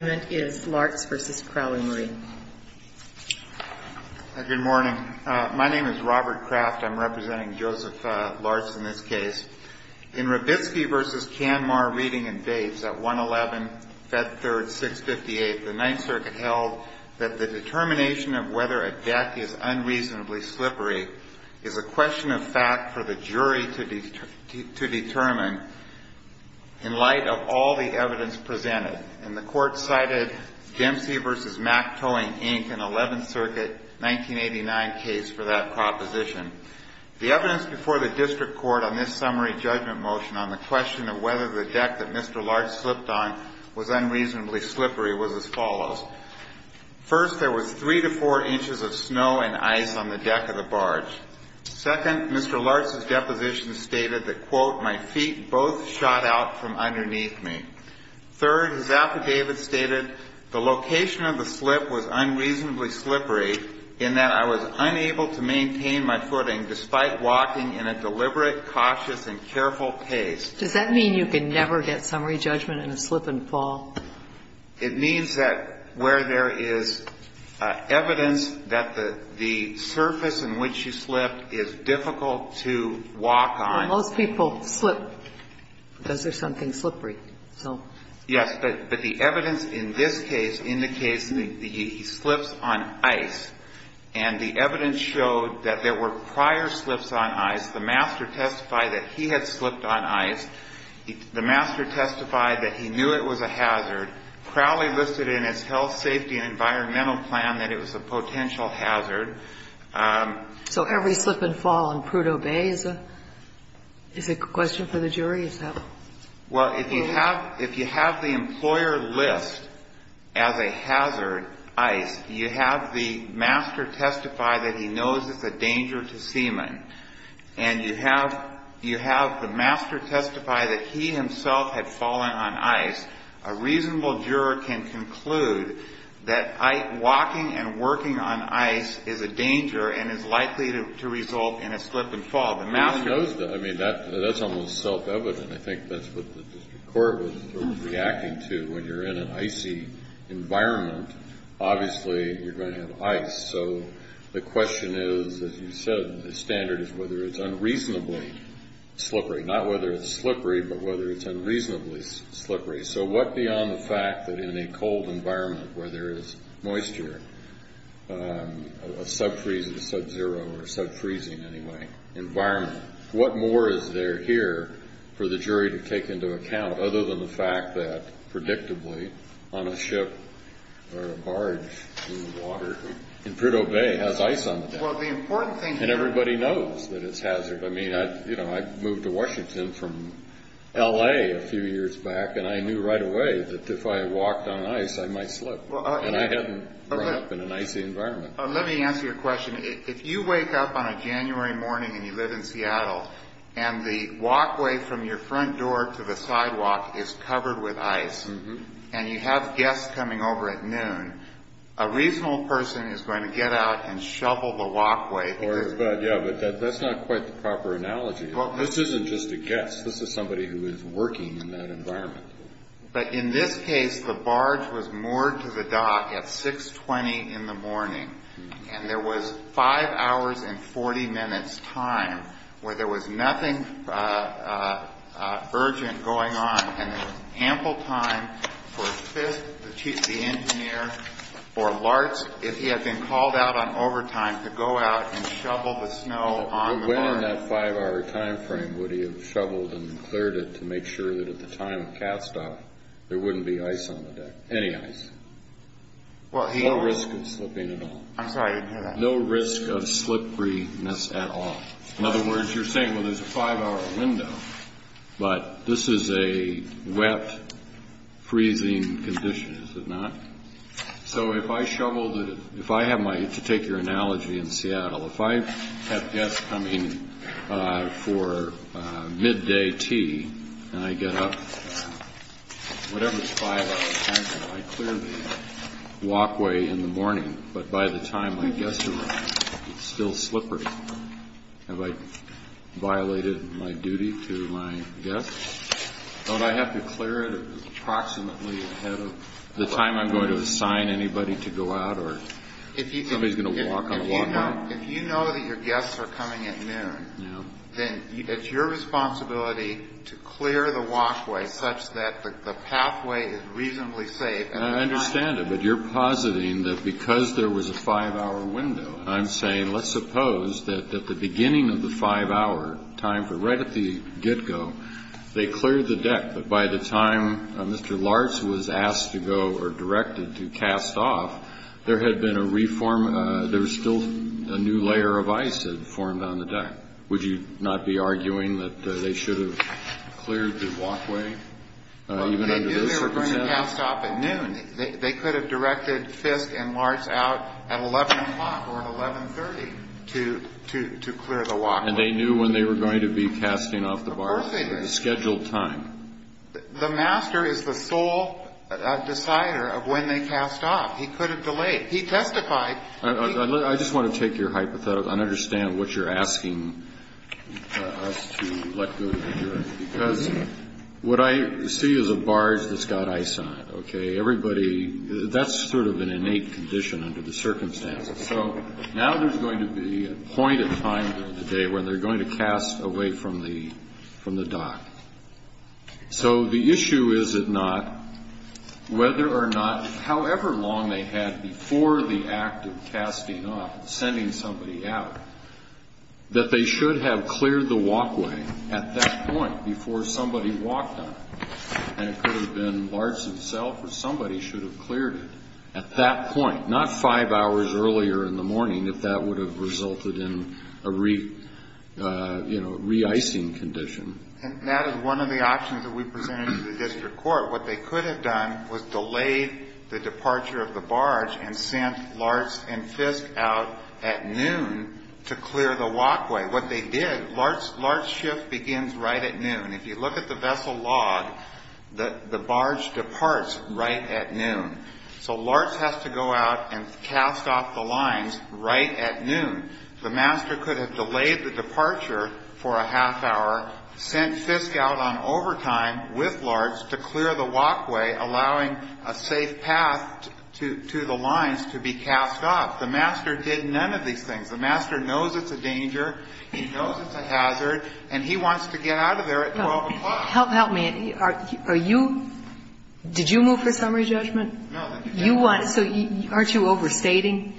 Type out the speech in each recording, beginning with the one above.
Good morning. My name is Robert Kraft. I'm representing Joseph Lartz in this case. In Robitsky v. Canmar Reading and Dates at 1-11-Fed3-658, the Ninth Circuit held that the determination of whether a deck is unreasonably slippery is a question of fact for the jury to determine in light of all the evidence presented, and the Court cited Dempsey v. Mack Towing, Inc. in the Eleventh Circuit 1989 case for that proposition. The evidence before the District Court on this summary judgment motion on the question of whether the deck that Mr. Lartz slipped on was unreasonably slippery was as follows. First, there was three to four inches of snow and ice on the deck of the barge. Second, Mr. Lartz's deposition stated that, quote, my feet both shot out from underneath me. Third, his affidavit stated the location of the slip was unreasonably slippery in that I was unable to maintain my footing despite walking in a deliberate, cautious, and careful pace. Does that mean you can never get summary judgment in a slip-and-fall? It means that where there is evidence that the surface in which you slipped is difficult to walk on. And most people slip because there's something slippery, so. Yes, but the evidence in this case indicates that he slips on ice, and the evidence showed that there were prior slips on ice. The master testified that he had slipped on ice. The master testified that he knew it was a hazard. Crowley listed in his health, safety, and environmental plan that it was a potential hazard. So every slip-and-fall in Prudhoe Bay is a question for the jury? Is that correct? Well, if you have the employer list as a hazard, ice, you have the master testify that he knows it's a danger to semen, and you have the master testify that he himself had fallen on ice, a reasonable juror can conclude that walking and working on ice is a danger and is likely to result in a slip-and-fall. The master knows that. I mean, that's almost self-evident. I think that's what the district court was reacting to. When you're in an icy environment, obviously you're going to have ice. So the question is, as you said, the standard is whether it's unreasonably slippery. Not whether it's slippery, but whether it's unreasonably slippery. So what beyond the fact that in a cold environment where there is moisture, a sub-freezing, sub-zero, or sub-freezing, anyway, environment, what more is there here for the jury to take into account other than the fact that, predictably, on a ship or a barge in water in Prudhoe Bay has ice on the deck? And everybody knows that it's hazard. I mean, I moved to Washington from L.A. a few years back, and I knew right away that if I walked on ice, I might slip. And I hadn't grown up in an icy environment. Let me answer your question. If you wake up on a January morning and you live in Seattle, and the walkway from your front door to the sidewalk is covered with ice, and you have guests coming over at noon, a reasonable person is going to get out and shovel the walkway. But, yeah, but that's not quite the proper analogy. This isn't just a guest. This is somebody who is working in that environment. But in this case, the barge was moored to the dock at 6.20 in the morning, and there was 5 hours and 40 minutes time where there was nothing urgent going on, and there was ample time for Fisk, the engineer, or Larch, if he had been called out on overtime, to go out and shovel the snow on the barge. But when in that 5-hour time frame would he have shoveled and cleared it to make sure that at the time of cast-off, there wouldn't be ice on the deck, any ice? No risk of slipping at all. I'm sorry, I didn't hear that. No risk of slipperiness at all. In other words, you're saying, well, there's a 5-hour window, but this is a wet, freezing condition, is it not? So if I have my, to take your analogy in Seattle, if I have guests coming for midday tea, and I get up, whatever it's 5-hour time frame, I clear the walkway in the morning, but by the time my guests arrive, it's still slippery. Have I violated my duty to my guests? Don't I have to clear it approximately ahead of the time I'm going to assign anybody to go out, or somebody's going to walk on the walkway? If you know that your guests are coming at noon, then it's your responsibility to clear the walkway such that the pathway is reasonably safe. I understand it, but you're positing that because there was a 5-hour window, and I'm saying, let's suppose that at the beginning of the 5-hour time frame, right at the get-go, they cleared the deck, but by the time Mr. Lartz was asked to go, or directed to cast off, there had been a reform, there was still a new layer of ice had formed on the deck. Would you not be arguing that they should have cleared the walkway, even under this circumstance? Well, they knew they were going to cast off at noon. They could have directed Fisk and Lartz out at 11 o'clock or at 11.30 to clear the walkway. And they knew when they were going to be casting off the barge? Of course they did. At a scheduled time. The master is the sole decider of when they cast off. He could have delayed. He testified. I just want to take your hypothetical and understand what you're asking us to let go of the jury, because what I see is a barge that's got ice on it, okay? Everybody, that's sort of an innate condition under the circumstances. So now there's going to be a point in time during the day where they're going to cast away from the dock. So the issue is it not, whether or not, however long they had before the act of casting off, sending somebody out, that they should have cleared the walkway at that point, before somebody walked on it. And it could have been Lartz himself or somebody should have cleared it at that point, not five hours earlier in the morning if that would have resulted in a re-icing condition. And that is one of the options that we presented to the district court. What they could have done was delayed the departure of the barge and sent Lartz and Fisk out at noon to clear the walkway. What they did, Lartz's shift begins right at noon. If you look at the vessel log, the barge departs right at noon. So Lartz has to go out and cast off the lines right at noon. The master could have delayed the departure for a half hour, sent Fisk out on overtime with Lartz to clear the walkway, allowing a safe path to the lines to be cast off. The master did none of these things. The master knows it's a danger. He knows it's a hazard. And he wants to get out of there at 12 o'clock. Help me. Are you ñ did you move for summary judgment? No. You want ñ so aren't you overstating?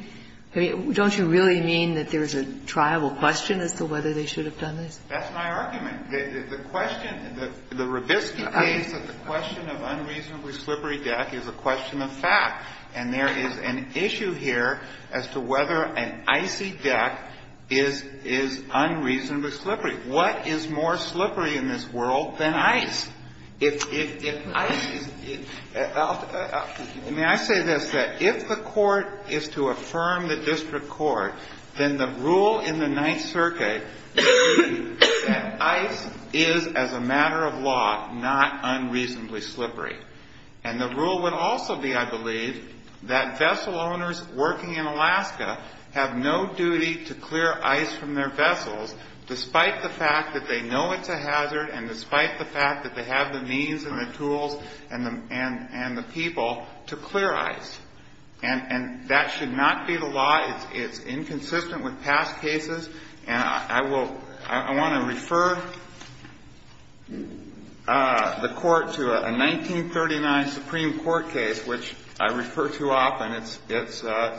Don't you really mean that there's a triable question as to whether they should have done this? That's my argument. The question ñ the Robiski case that the question of unreasonably slippery deck is a question of fact. And there is an issue here as to whether an icy deck is unreasonably slippery. What is more slippery in this world than ice? If ice is ñ may I say this, that if the court is to affirm the district court, then the rule in the Ninth Circuit would be that ice is, as a matter of law, not unreasonably slippery. And the rule would also be, I believe, that vessel owners working in Alaska have no duty to clear ice from their vessels despite the fact that they know it's a hazard and despite the fact that they have the means and the tools and the people to clear ice. And that should not be the law. It's inconsistent with past cases. And I will ñ I want to refer the Court to a 1939 Supreme Court case which I refer to often. It's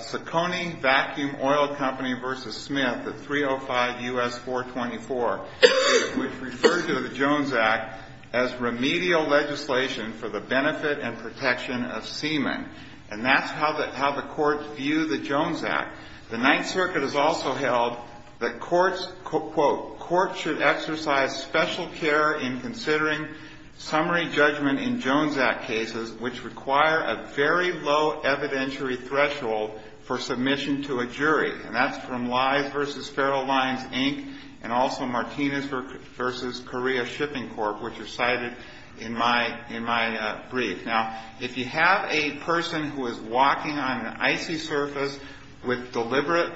Saccone Vacuum Oil Company v. Smith at 305 U.S. 424, which referred to the Jones Act as remedial legislation for the benefit and protection of semen. And that's how the courts view the Jones Act. The Ninth Circuit has also held that courts, quote, ìcourts should exercise special care in considering summary judgment in Jones Act cases which require a very low evidentiary threshold for submission to a jury.î And that's from Lies v. Feral Lines, Inc. and also Martinez v. Korea Shipping Corp., which are cited in my brief. Now, if you have a person who is walking on an icy surface with deliberate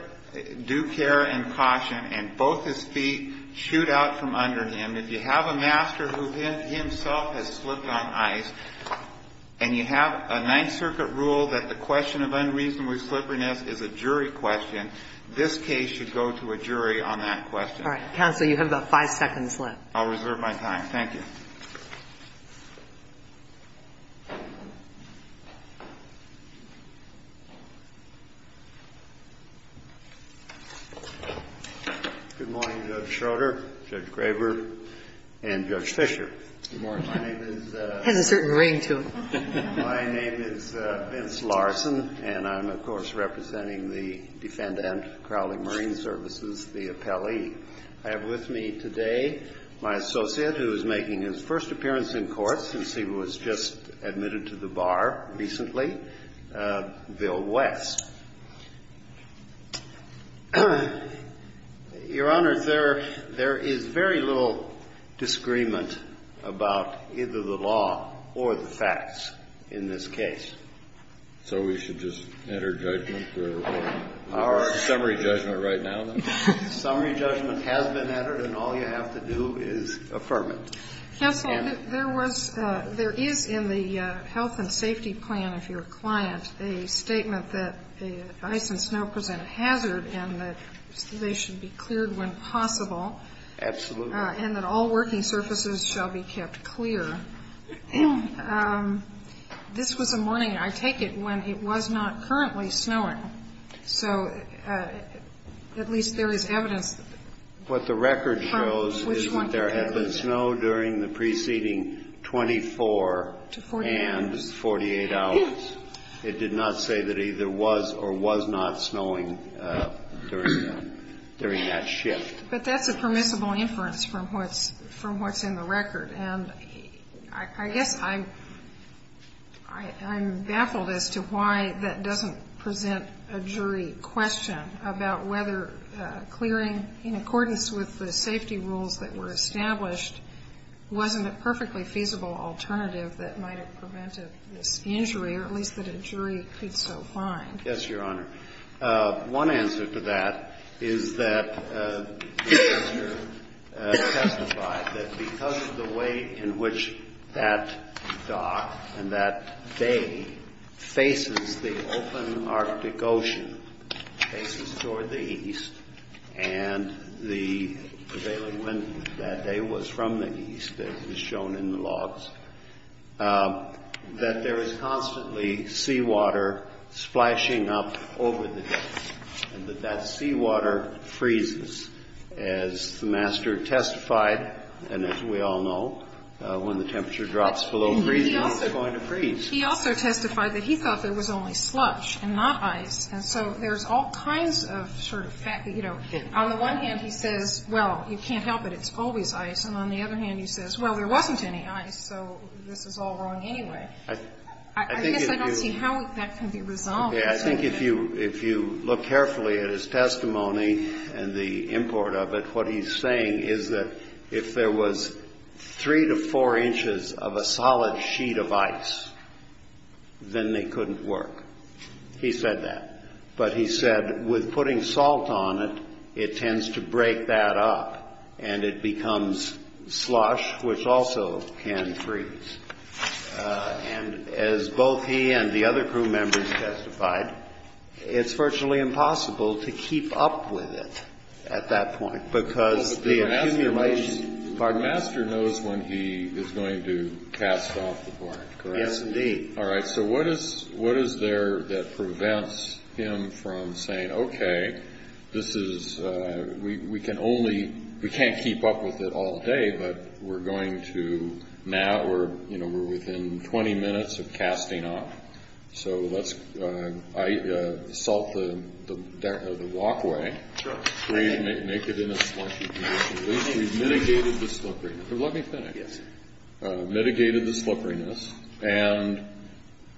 due care and caution and both his feet shoot out from under him, and if you have a master who himself has slipped on ice, and you have a Ninth Circuit rule that the question of unreasonable slipperiness is a jury question, this case should go to a jury on that question. All right. Counsel, you have about five seconds left. I'll reserve my time. Thank you. Good morning, Judge Schroeder, Judge Graber, and Judge Fischer. Good morning. My name is ñ He has a certain ring to him. My name is Vince Larson, and I'm, of course, representing the defendant, Crowley Marine Services, the appellee. I have with me today my associate who is making his first appearance in court since he was just admitted to the bar recently, Bill West. Your Honor, there is very little disagreement about either the law or the facts in this case. So we should just enter judgment or summary judgment right now, then? Summary judgment has been entered, and all you have to do is affirm it. Counsel, there was ñ there is in the health and safety plan of your client a statement that ice and snow present a hazard and that they should be cleared when possible. Absolutely. And that all working surfaces shall be kept clear. This was a morning, I take it, when it was not currently snowing. So at least there is evidence. What the record shows is that there had been snow during the preceding 24 and 48 hours. It did not say that either was or was not snowing during that shift. But that's a permissible inference from what's in the record. And I guess I'm baffled as to why that doesn't present a jury question about whether clearing in accordance with the safety rules that were established wasn't a perfectly feasible alternative that might have prevented this injury, or at least that a jury could so find. Yes, Your Honor. One answer to that is that the counselor testified that because of the way in which that dock and that bay faces the open Arctic Ocean, faces toward the east, and the prevailing wind that day was from the east, as shown in the logs, that there is constantly seawater splashing up over the deck. And that that seawater freezes. As the master testified, and as we all know, when the temperature drops below freezing, it's going to freeze. He also testified that he thought there was only sludge and not ice. And so there's all kinds of sort of facts. On the one hand, he says, well, you can't help it. It's always ice. And on the other hand, he says, well, there wasn't any ice, so this is all wrong anyway. I guess I don't see how that can be resolved. I think if you look carefully at his testimony and the import of it, what he's saying is that if there was three to four inches of a solid sheet of ice, then they couldn't work. He said that. But he said with putting salt on it, it tends to break that up and it becomes slush, which also can freeze. And as both he and the other crew members testified, it's virtually impossible to keep up with it at that point, because the accumulation. But the master knows when he is going to cast off the board, correct? Yes, indeed. All right. So what is what is there that prevents him from saying, OK, this is we can only we can't keep up with it all day, but we're going to now or, you know, we're within 20 minutes of casting off. So let's salt the walkway. Make it in a slushy. We've mitigated the slipperiness. Let me finish. Yes. And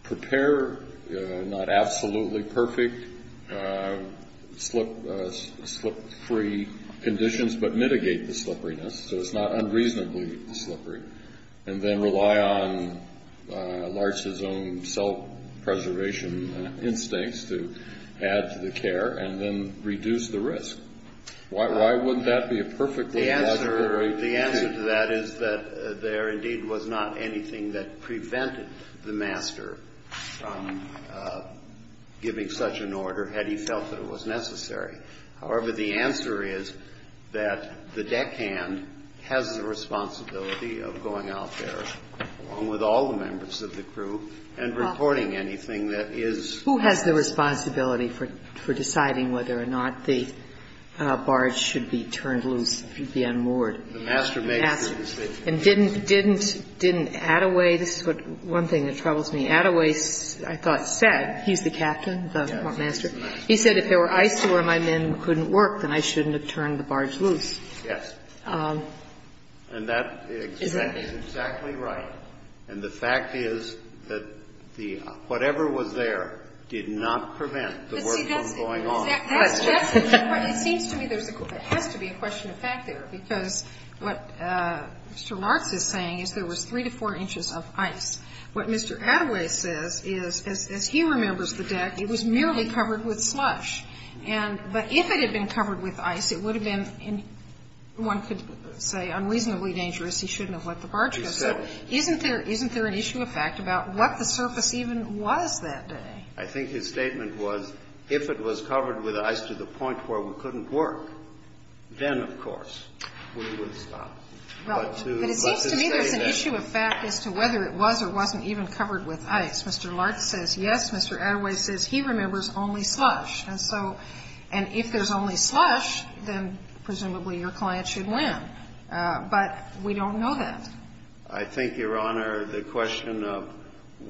prepare not absolutely perfect slip slip free conditions, but mitigate the slipperiness. So it's not unreasonably slippery. And then rely on Larson's own self-preservation instincts to add to the care and then reduce the risk. Why wouldn't that be a perfect? The answer to that is that there indeed was not anything that prevented the master from giving such an order had he felt that it was necessary. However, the answer is that the deckhand has the responsibility of going out there with all the members of the crew and reporting anything that is. Who has the responsibility for deciding whether or not the barge should be turned loose, be unmoored? And didn't didn't didn't Attaway. This is what one thing that troubles me. Attaway, I thought, said he's the captain, the master. He said if there were ice where my men couldn't work, then I shouldn't have turned the barge loose. Yes. And that is exactly right. And the fact is that the whatever was there did not prevent the worst going on. It seems to me there has to be a question of fact there, because what Mr. Martz is saying is there was three to four inches of ice. What Mr. Attaway says is, as he remembers the deck, it was merely covered with slush. And but if it had been covered with ice, it would have been one could say unreasonably dangerous. He shouldn't have let the barge go. So isn't there isn't there an issue of fact about what the surface even was that day? I think his statement was if it was covered with ice to the point where we couldn't work, then, of course, we would stop. But it seems to me there's an issue of fact as to whether it was or wasn't even covered with ice. Mr. Martz says yes. Mr. Attaway says he remembers only slush. And so and if there's only slush, then presumably your client should win. But we don't know that. I think, Your Honor, the question of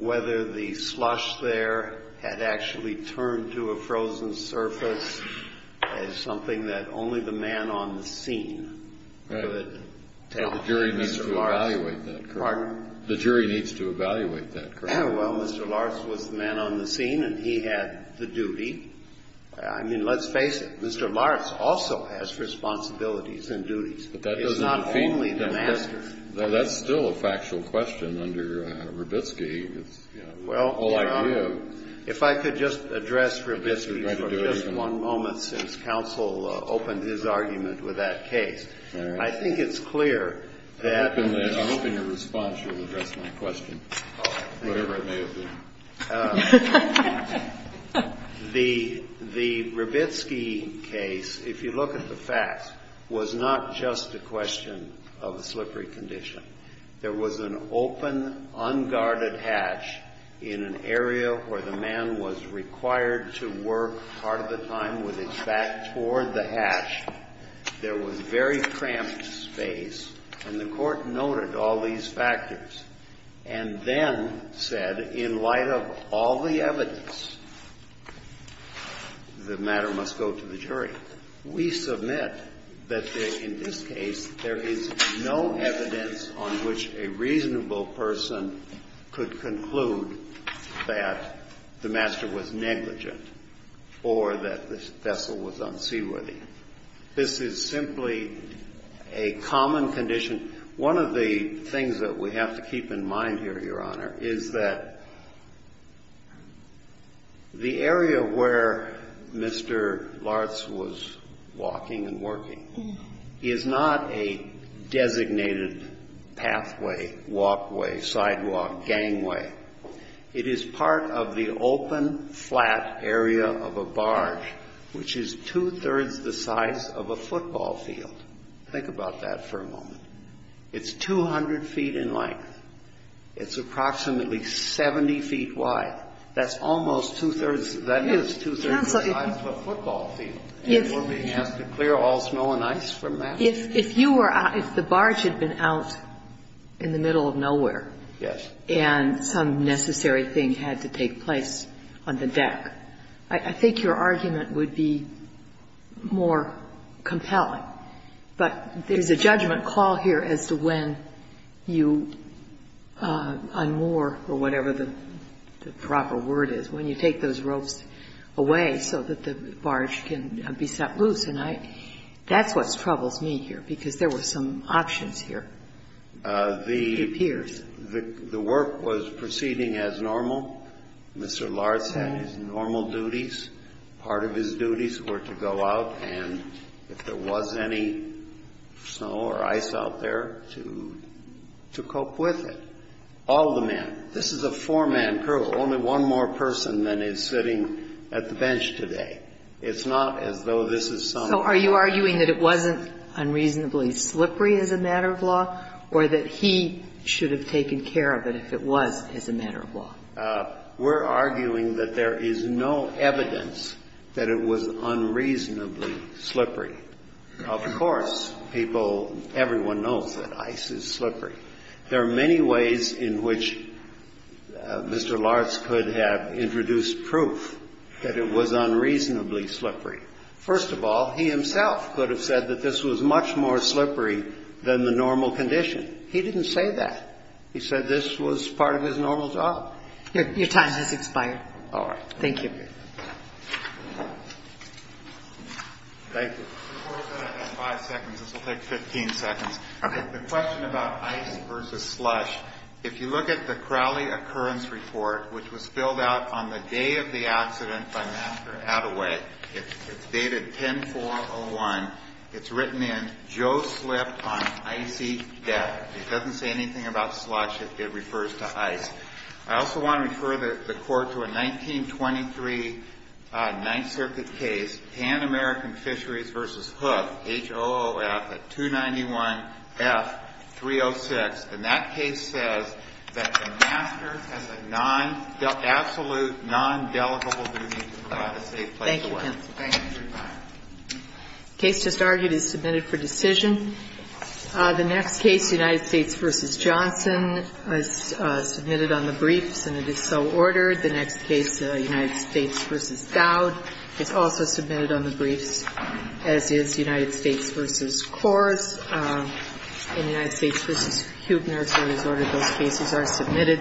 whether the slush there had actually turned to a frozen surface is something that only the man on the scene could tell. The jury needs to evaluate that. Pardon? The jury needs to evaluate that. Well, Mr. Martz was the man on the scene, and he had the duty. I mean, let's face it. Mr. Martz also has responsibilities and duties. It's not only the master. That's still a factual question under Rabitsky. Well, Your Honor, if I could just address Rabitsky for just one moment since counsel opened his argument with that case. All right. I think it's clear that. I'm hoping your response will address my question, whatever it may have been. The Rabitsky case, if you look at the facts, was not just a question of a slippery condition. There was an open, unguarded hatch in an area where the man was required to work part of the time with his back toward the hatch. There was very cramped space. And the Court noted all these factors. And then said, in light of all the evidence, the matter must go to the jury. We submit that in this case, there is no evidence on which a reasonable person could conclude that the master was negligent or that the vessel was unseaworthy. This is simply a common condition. One of the things that we have to keep in mind here, Your Honor, is that the area where Mr. Lartz was walking and working is not a designated pathway, walkway, sidewalk, gangway. It is part of the open, flat area of a barge, which is two-thirds the size of a football field. Think about that for a moment. It's 200 feet in length. It's approximately 70 feet wide. That's almost two-thirds of the size of a football field. And we're being asked to clear all snow and ice from that? If you were out, if the barge had been out in the middle of nowhere and some necessary thing had to take place on the deck, I think your argument would be more compelling. But there's a judgment call here as to when you unmoor or whatever the proper word is, when you take those ropes away so that the barge can be set loose. And that's what troubles me here, because there were some options here, it appears. The work was proceeding as normal. Mr. Lartz had his normal duties. Part of his duties were to go out, and if there was any snow or ice out there, to cope with it. All the men. This is a four-man crew. Only one more person than is sitting at the bench today. It's not as though this is some other. We're arguing that it wasn't unreasonably slippery as a matter of law, or that he should have taken care of it if it was as a matter of law. We're arguing that there is no evidence that it was unreasonably slippery. Of course, people, everyone knows that ice is slippery. There are many ways in which Mr. Lartz could have introduced proof that it was unreasonably slippery. First of all, he himself could have said that this was much more slippery than the normal condition. He didn't say that. He said this was part of his normal job. Your time has expired. All right. Thank you. Thank you. Five seconds. This will take 15 seconds. Okay. The question about ice versus slush. If you look at the Crowley Occurrence Report, which was filled out on the day of the accident by Master Attaway, it's dated 10-4-01. It's written in, Joe slipped on icy deck. It doesn't say anything about slush. It refers to ice. I also want to refer the Court to a 1923 Ninth Circuit case, Pan American Fisheries v. Hook, HOOF at 291F-306. And that case says that the master has a non-absolute, non-delegable duty to provide a safe place to live. Thank you. The case just argued is submitted for decision. The next case, United States v. Johnson, is submitted on the briefs, and it is so ordered. The next case, United States v. Dowd, is also submitted on the briefs, as is United States v. Coors. And United States v. Huebner, as is ordered, those cases are submitted.